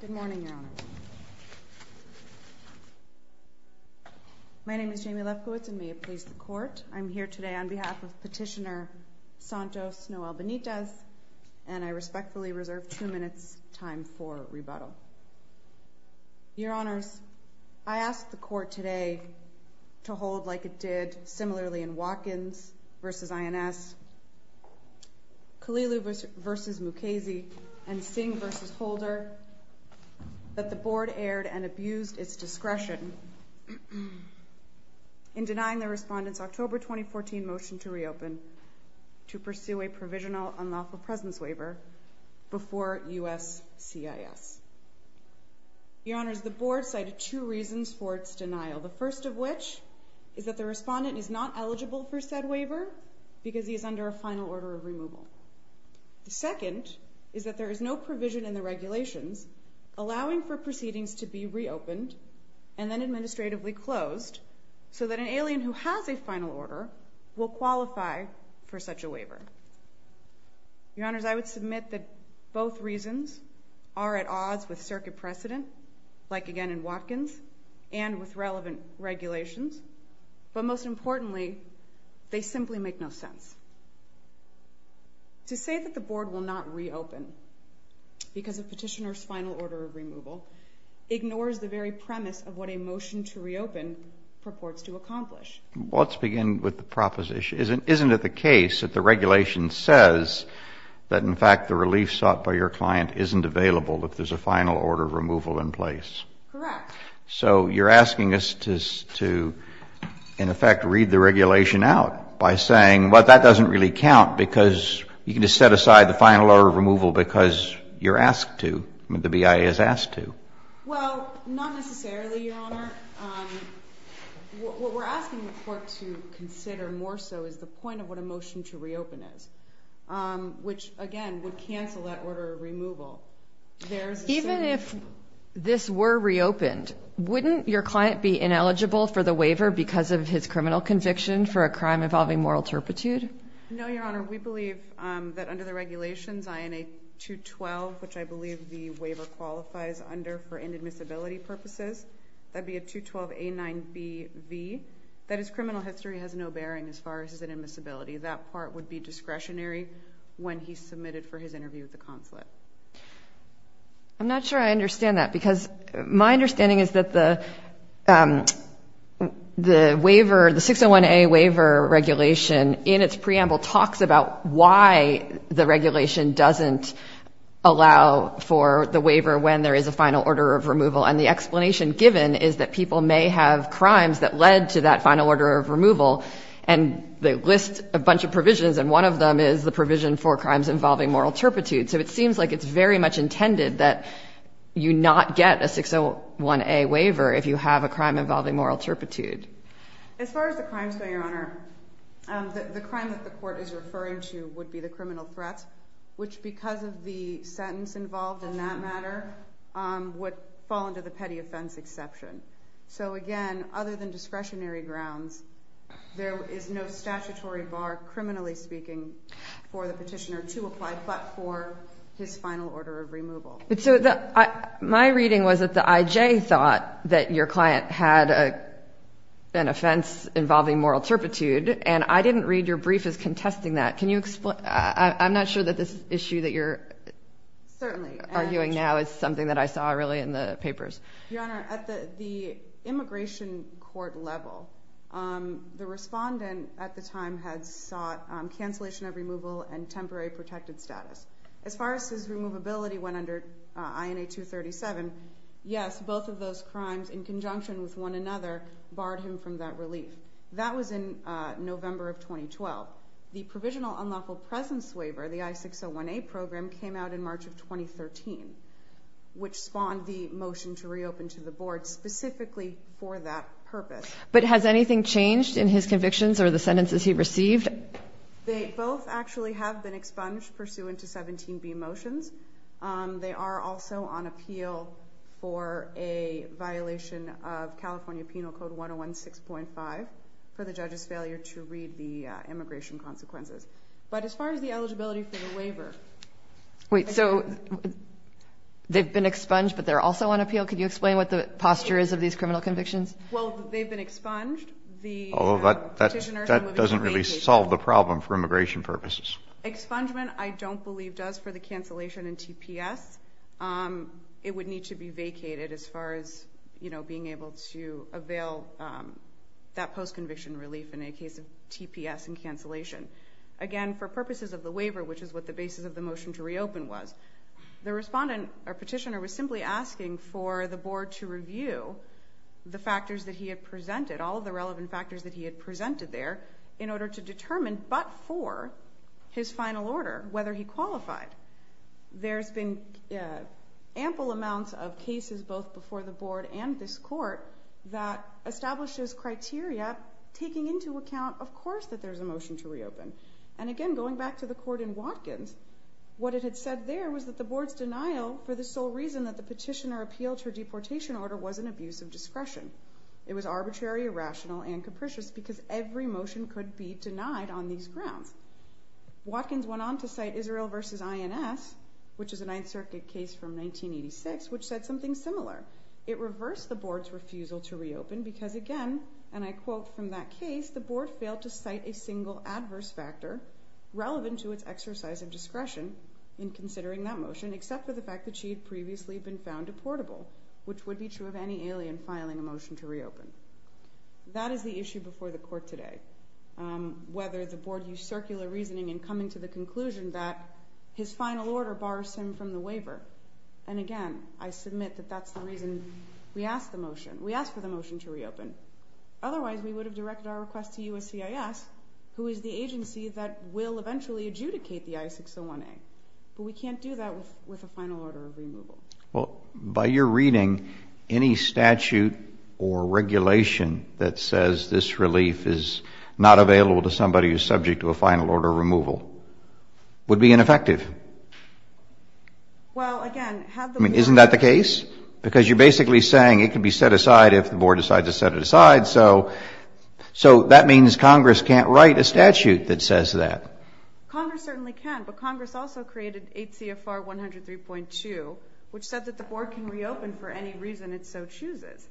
Good morning, Your Honor. My name is Jamie Lefkowitz, and may it please the Court, I'm here today on behalf of Petitioner Santos Noel Benitez, and I respectfully reserve two minutes time for rebuttal. Your Honors, I ask the Court today to hold like it did similarly in Watkins v. INS, Kalilu v. Mukasey, and Singh v. Holder, that the Board erred and abused its discretion in denying the Respondent's October 2014 motion to reopen to pursue a provisional unlawful presence waiver before USCIS. Your Honors, the Board cited two reasons for its denial. The first of which is that the Respondent is not eligible for said waiver because he is under a final order of removal. The second is that there is no provision in the regulations allowing for proceedings to be reopened and then administratively closed so that an alien who has a final order will qualify for such a waiver. Your Honors, I would submit that both reasons are at odds with circuit precedent, like again in Watkins, and with relevant regulations, but most importantly, they simply make no sense. To say that the Board will not reopen because of Petitioner's final order of removal ignores the very premise of what a motion to reopen purports to accomplish. Well, let's begin with the proposition. Isn't it the case that the regulation says that, in fact, the relief sought by your client isn't available if there's a final order of removal in place? Correct. So you're asking us to, in effect, read the regulation out by saying, well, that doesn't really count because you can just set aside the final order of removal because you're asked to, the BIA is asked to. Well, not necessarily, Your Honor. What we're asking the Court to consider more so is the point of what a motion to reopen is, which, again, would cancel that order of removal. Even if this were reopened, wouldn't your client be ineligible for the waiver because of his criminal conviction for a crime involving moral turpitude? No, Your Honor. We believe that under the regulations, INA 212, which I believe the waiver qualifies under for inadmissibility purposes, that would be a 212A9BV, that his criminal history has no bearing as far as his inadmissibility. That part would be discretionary when he's submitted for his interview with the consulate. I'm not sure I understand that because my understanding is that the waiver, the 601A waiver regulation in its preamble talks about why the regulation doesn't allow for the waiver when there is a final order of removal. And the explanation given is that people may have crimes that led to that final order of removal, and they list a bunch of provisions, and one of them is the provision for crimes involving moral turpitude. So it seems like it's very much intended that you not get a 601A waiver if you have a crime involving moral turpitude. As far as the crimes go, Your Honor, the crime that the court is referring to would be the criminal threat, which, because of the sentence involved in that matter, would fall under the petty offense exception. So, again, other than discretionary grounds, there is no statutory bar, criminally speaking, for the petitioner to apply but for his final order of removal. So my reading was that the I.J. thought that your client had an offense involving moral turpitude, and I didn't read your brief as contesting that. Can you explain? I'm not sure that this issue that you're arguing now is something that I saw really in the papers. Your Honor, at the immigration court level, the respondent at the time had sought cancellation of removal and temporary protected status. As far as his removability went under INA 237, yes, both of those crimes in conjunction with one another barred him from that relief. That was in November of 2012. The provisional unlawful presence waiver, the I-601A program, came out in March of 2013, which spawned the motion to reopen to the board specifically for that purpose. But has anything changed in his convictions or the sentences he received? They both actually have been expunged pursuant to 17B motions. They are also on appeal for a violation of California Penal Code 101-6.5 for the judge's failure to read the immigration consequences. But as far as the eligibility for the waiver ---- Wait, so they've been expunged but they're also on appeal? Could you explain what the posture is of these criminal convictions? Well, they've been expunged. That doesn't really solve the problem for immigration purposes. Expungement, I don't believe, does for the cancellation and TPS. It would need to be vacated as far as being able to avail that post-conviction relief in the case of TPS and cancellation. Again, for purposes of the waiver, which is what the basis of the motion to reopen was, the respondent or petitioner was simply asking for the board to review the factors that he had presented, all of the relevant factors that he had presented there, in order to determine, but for his final order, whether he qualified. There's been ample amounts of cases both before the board and this court that establishes criteria taking into account, of course, that there's a motion to reopen. And again, going back to the court in Watkins, what it had said there was that the board's denial for the sole reason that the petitioner appealed her deportation order was an abuse of discretion. It was arbitrary, irrational, and capricious because every motion could be denied on these grounds. Watkins went on to cite Israel v. INS, which is a Ninth Circuit case from 1986, which said something similar. It reversed the board's refusal to reopen because again, and I quote from that case, the board failed to cite a single adverse factor relevant to its exercise of discretion in considering that motion, except for the fact that she had previously been found deportable, which would be true of any alien filing a motion to reopen. That is the issue before the court today. Whether the board used circular reasoning in coming to the conclusion that his final order bars him from the waiver. And again, I submit that that's the reason we asked the motion. We asked for the motion to reopen. Otherwise, we would have directed our request to USCIS, who is the agency that will eventually adjudicate the I-601A. But we can't do that with a final order of removal. Well, by your reading, any statute or regulation that says this relief is not available to somebody who is subject to a final order of removal would be ineffective. Well, again, have the board. I mean, isn't that the case? Because you're basically saying it could be set aside if the board decides to set it aside. So that means Congress can't write a statute that says that. Congress certainly can. But Congress also created 8 CFR 103.2, which said that the board can reopen for any reason it so chooses.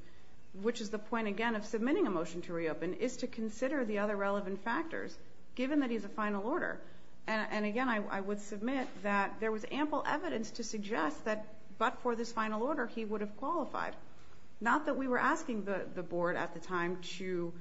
Which is the point, again, of submitting a motion to reopen is to consider the other relevant factors, given that he's a final order. And again, I would submit that there was ample evidence to suggest that but for this final order, he would have qualified. Not that we were asking the board at the time to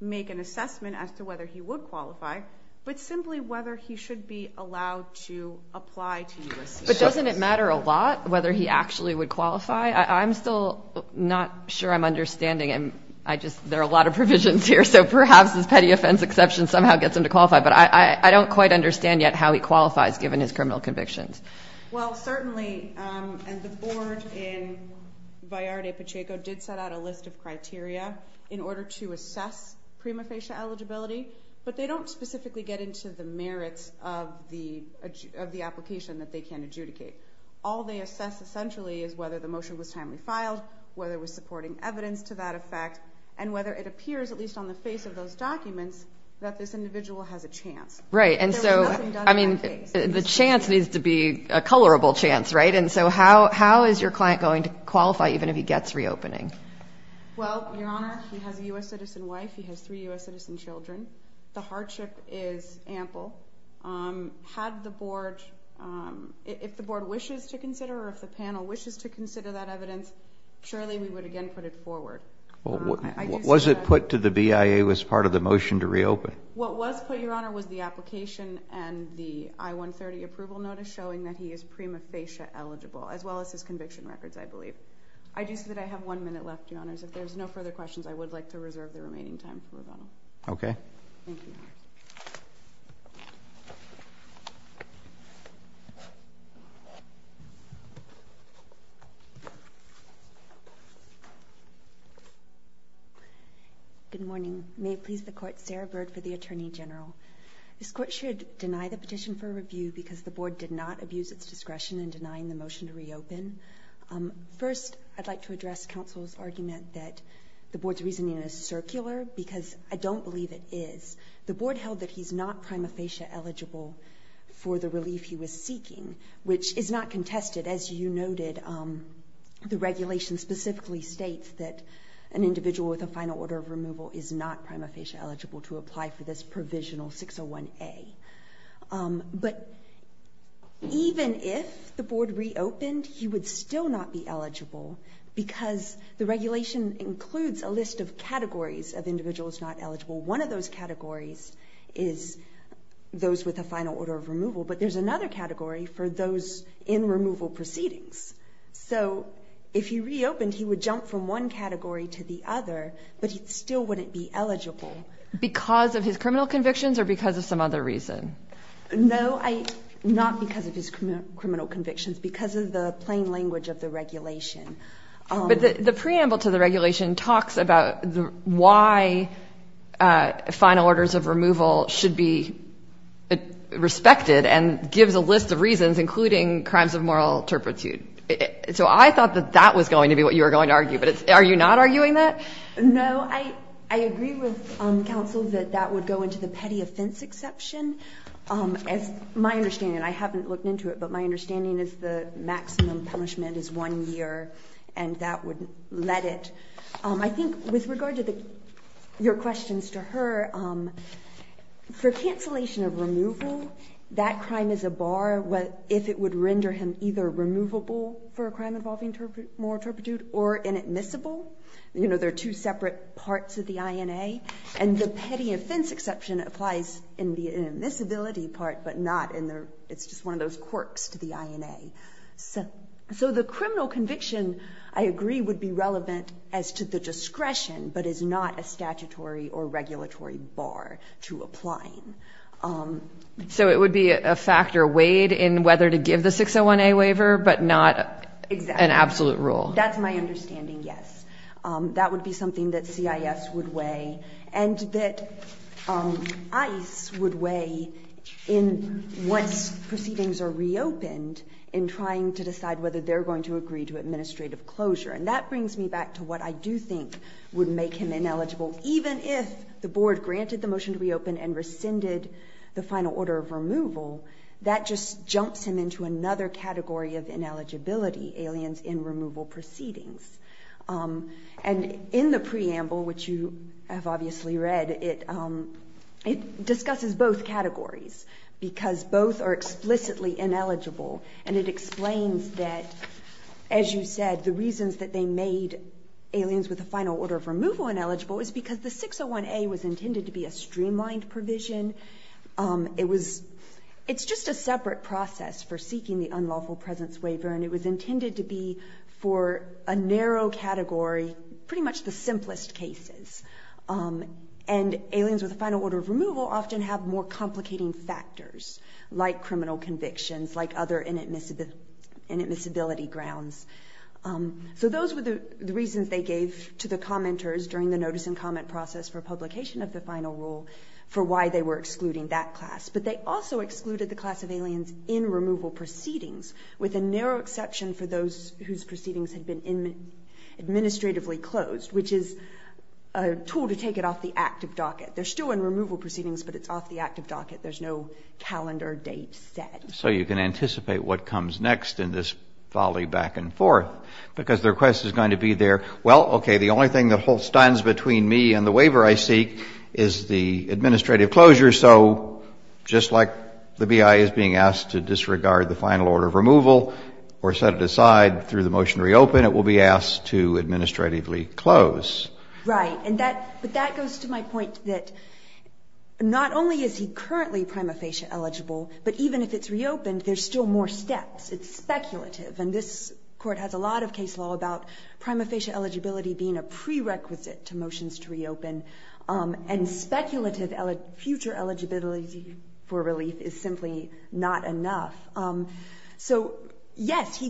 make an assessment as to whether he would qualify, but simply whether he should be allowed to apply to U.S. citizens. But doesn't it matter a lot whether he actually would qualify? I'm still not sure I'm understanding. There are a lot of provisions here, so perhaps this petty offense exception somehow gets him to qualify. But I don't quite understand yet how he qualifies, given his criminal convictions. Well, certainly. And the board in Vallarde-Pacheco did set out a list of criteria in order to assess prima facie eligibility. But they don't specifically get into the merits of the application that they can adjudicate. All they assess, essentially, is whether the motion was timely filed, whether it was supporting evidence to that effect, and whether it appears, at least on the face of those documents, that this individual has a chance. Right. And so, I mean, the chance needs to be a colorable chance, right? And so how is your client going to qualify even if he gets reopening? Well, Your Honor, he has a U.S. citizen wife. He has three U.S. citizen children. The hardship is ample. Had the board, if the board wishes to consider or if the panel wishes to consider that evidence, surely we would again put it forward. Was it put to the BIA as part of the motion to reopen? What was put, Your Honor, was the application and the I-130 approval notice showing that he is prima facie eligible, as well as his conviction records, I believe. I do see that I have one minute left, Your Honors. If there's no further questions, I would like to reserve the remaining time for rebuttal. Thank you, Your Honors. Good morning. May it please the Court, Sarah Bird for the Attorney General. This Court should deny the petition for review because the board did not abuse its discretion in denying the motion to reopen. First, I'd like to address counsel's argument that the board's reasoning is circular because I don't believe it is. The board held that he's not prima facie eligible for the relief he was seeking, which is not contested. As you noted, the regulation specifically states that an individual with a final order of removal is not prima facie eligible to apply for this provisional 601A. But even if the board reopened, he would still not be eligible because the regulation includes a list of categories of individuals not eligible. One of those categories is those with a final order of removal, but there's another category for those in removal proceedings. So if he reopened, he would jump from one category to the other, but he still wouldn't be eligible. Because of his criminal convictions or because of some other reason? No, not because of his criminal convictions, because of the plain language of the regulation. But the preamble to the regulation talks about why final orders of removal should be respected and gives a list of reasons, including crimes of moral turpitude. So I thought that that was going to be what you were going to argue, but are you not arguing that? No, I agree with counsel that that would go into the petty offense exception. As my understanding, and I haven't looked into it, but my understanding is the maximum punishment is one year, and that would let it. I think with regard to your questions to her, for cancellation of removal, that crime is a bar if it would render him either removable for a crime involving moral turpitude or inadmissible. There are two separate parts of the INA, and the petty offense exception applies in the inadmissibility part, but not in the, it's just one of those quirks to the INA. So the criminal conviction, I agree, would be relevant as to the discretion, but is not a statutory or regulatory bar to apply. So it would be a factor weighed in whether to give the 601A waiver, but not an absolute rule? That's my understanding, yes. That would be something that CIS would weigh, and that ICE would weigh once proceedings are reopened in trying to decide whether they're going to agree to administrative closure. And that brings me back to what I do think would make him ineligible. Even if the board granted the motion to reopen and rescinded the final order of removal, that just jumps him into another category of ineligibility, aliens in removal proceedings. And in the preamble, which you have obviously read, it discusses both categories, because both are explicitly ineligible. And it explains that, as you said, the reasons that they made aliens with a final order of removal ineligible is because the 601A was intended to be a streamlined provision. It was, it's just a separate process for seeking the unlawful presence waiver, and it was intended to be for a narrow category, pretty much the simplest cases. And aliens with a final order of removal often have more complicating factors, like criminal convictions, like other inadmissibility grounds. So those were the reasons they gave to the commenters during the notice and comment process for publication of the final rule for why they were excluding that class. But they also excluded the class of aliens in removal proceedings, with a narrow exception for those whose proceedings had been administratively closed, which is a tool to take it off the active docket. They're still in removal proceedings, but it's off the active docket. There's no calendar date set. So you can anticipate what comes next in this volley back and forth, because the request is going to be there. Well, okay, the only thing that holds stands between me and the waiver I seek is the administrative closure. So just like the BIA is being asked to disregard the final order of removal or set it aside through the motion to reopen, it will be asked to administratively close. Right. But that goes to my point that not only is he currently prima facie eligible, but even if it's reopened, there's still more steps. It's speculative. And this Court has a lot of case law about prima facie eligibility being a prerequisite to motions to reopen. And speculative future eligibility for relief is simply not enough. So, yes,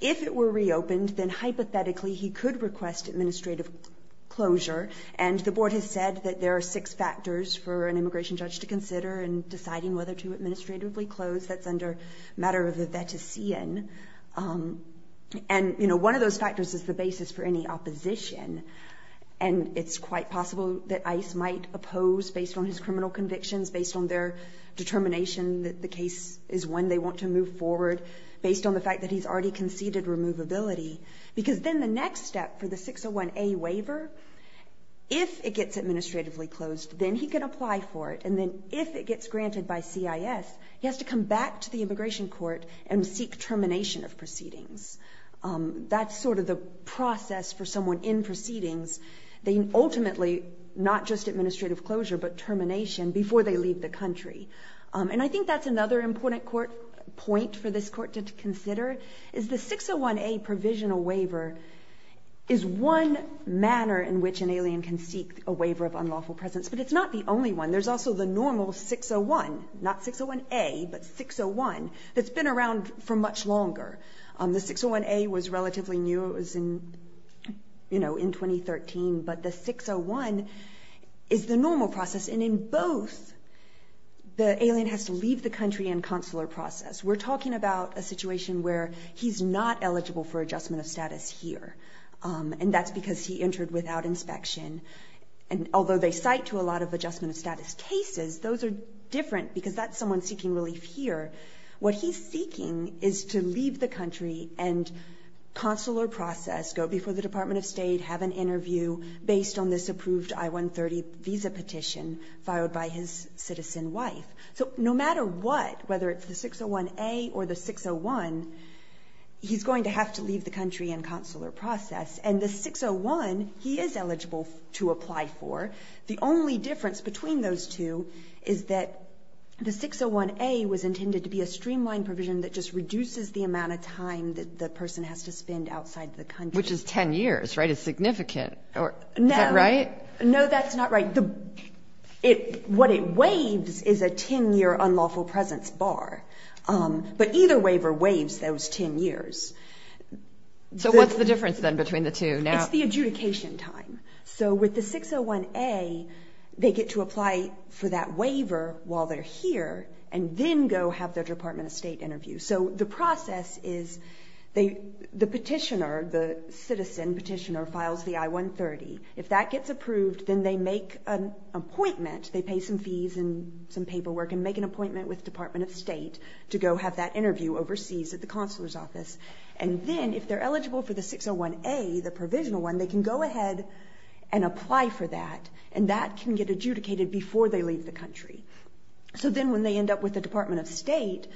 if it were reopened, then hypothetically he could request administrative closure. And the Board has said that there are six factors for an immigration judge to consider in deciding whether to administratively close. That's under matter of the vetician. And, you know, one of those factors is the basis for any opposition. And it's quite possible that ICE might oppose based on his criminal convictions, based on their determination that the case is when they want to move forward, based on the fact that he's already conceded removability. Because then the next step for the 601A waiver, if it gets administratively closed, then he can apply for it. And then if it gets granted by CIS, he has to come back to the Immigration Court and seek termination of proceedings. That's sort of the process for someone in proceedings. They ultimately, not just administrative closure, but termination before they leave the country. And I think that's another important point for this Court to consider, is the 601A provisional waiver is one manner in which an alien can seek a waiver of unlawful presence. But it's not the only one. There's also the normal 601, not 601A, but 601, that's been around for much longer. The 601A was relatively new, it was in, you know, in 2013. But the 601 is the normal process. And in both, the alien has to leave the country in consular process. We're talking about a situation where he's not eligible for adjustment of status here. And that's because he entered without inspection. And although they cite to a lot of adjustment of status cases, those are different, because that's someone seeking relief here. What he's seeking is to leave the country and consular process, go before the Department of State, have an interview based on this approved I-130 visa petition filed by his citizen wife. So no matter what, whether it's the 601A or the 601, he's going to have to leave the country in consular process. And the 601, he is eligible to apply for. The only difference between those two is that the 601A was intended to be a streamlined provision that just reduces the amount of time that the person has to spend outside the country. Which is 10 years, right? It's significant. Is that right? No, that's not right. What it waives is a 10-year unlawful presence bar. But either waiver waives those 10 years. So what's the difference then between the two now? It's the adjudication time. So with the 601A, they get to apply for that waiver while they're here, and then go have their Department of State interview. So the process is the petitioner, the citizen petitioner, files the I-130. If that gets approved, then they make an appointment. They pay some fees and some paperwork and make an appointment with the Department of State to go have that interview overseas at the consular's office. And then if they're eligible for the 601A, the provisional one, they can go ahead and apply for that. And that can get adjudicated before they leave the country. So then when they end up with the Department of State,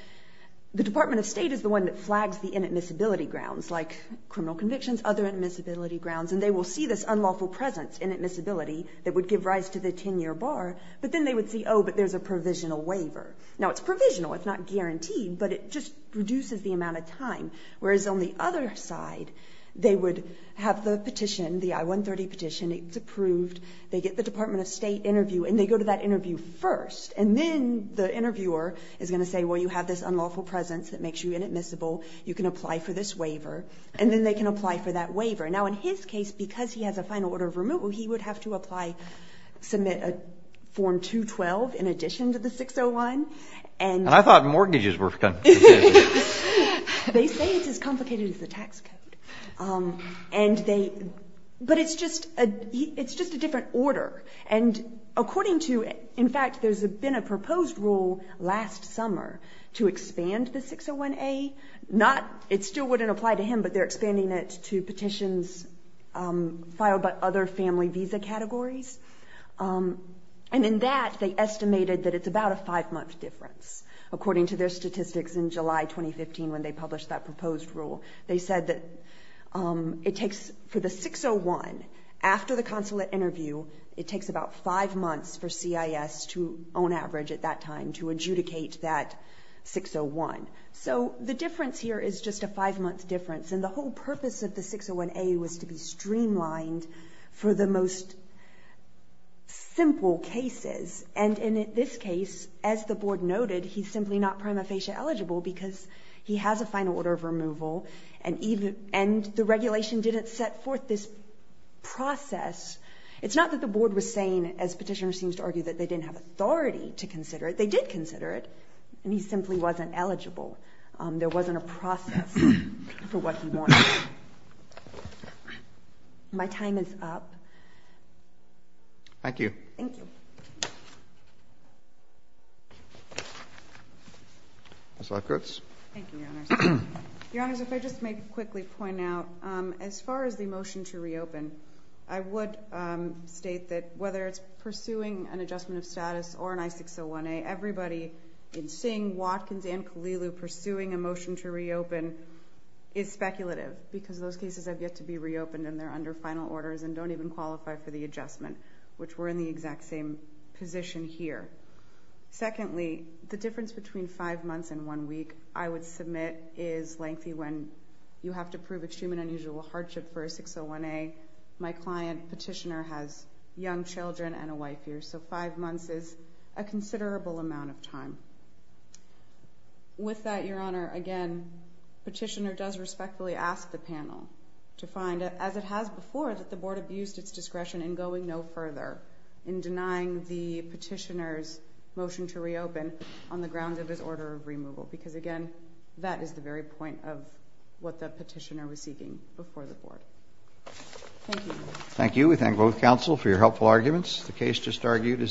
the Department of State is the one that flags the inadmissibility grounds, like criminal convictions, other inadmissibility grounds. And they will see this unlawful presence inadmissibility that would give rise to the 10-year bar. But then they would see, oh, but there's a provisional waiver. Now, it's provisional. It's not guaranteed, but it just reduces the amount of time. Whereas on the other side, they would have the petition, the I-130 petition. It's approved. They get the Department of State interview, and they go to that interview first. And then the interviewer is going to say, well, you have this unlawful presence that makes you inadmissible. You can apply for this waiver. And then they can apply for that waiver. Now, in his case, because he has a final order of removal, he would have to apply, submit a Form 212 in addition to the 601. And I thought mortgages were confusing. They say it's as complicated as the tax code. But it's just a different order. And according to, in fact, there's been a proposed rule last summer to expand the 601A. It still wouldn't apply to him, but they're expanding it to petitions filed by other family visa categories. And in that, they estimated that it's about a five-month difference, according to their statistics in July 2015 when they published that proposed rule. They said that it takes, for the 601, after the consulate interview, it takes about five months for CIS to, on average at that time, to adjudicate that 601. So the difference here is just a five-month difference. And the whole purpose of the 601A was to be streamlined for the most simple cases. And in this case, as the Board noted, he's simply not prima facie eligible because he has a final order of removal, and the regulation didn't set forth this process. It's not that the Board was saying, as Petitioner seems to argue, that they didn't have authority to consider it. They did consider it, and he simply wasn't eligible. There wasn't a process for what he wanted. My time is up. Thank you. Thank you. Ms. Lefkowitz. Thank you, Your Honors. Your Honors, if I just may quickly point out, as far as the motion to reopen, I would state that whether it's pursuing an adjustment of status or an I-601A, everybody in Singh, Watkins, and Kahlilu pursuing a motion to reopen is speculative, because those cases have yet to be reopened and they're under final orders and don't even qualify for the adjustment, which we're in the exact same position here. Secondly, the difference between five months and one week, I would submit, is lengthy when you have to prove extreme and unusual hardship for a 601A. My client, Petitioner, has young children and a wife here. So five months is a considerable amount of time. With that, Your Honor, again, Petitioner does respectfully ask the panel to find, as it has before, that the Board abused its discretion in going no further in denying the Petitioner's motion to reopen on the grounds of his order of removal, because, again, that is the very point of what the Petitioner was seeking before the Board. Thank you. Thank you. We thank both counsel for your helpful arguments. The case just argued is now closed.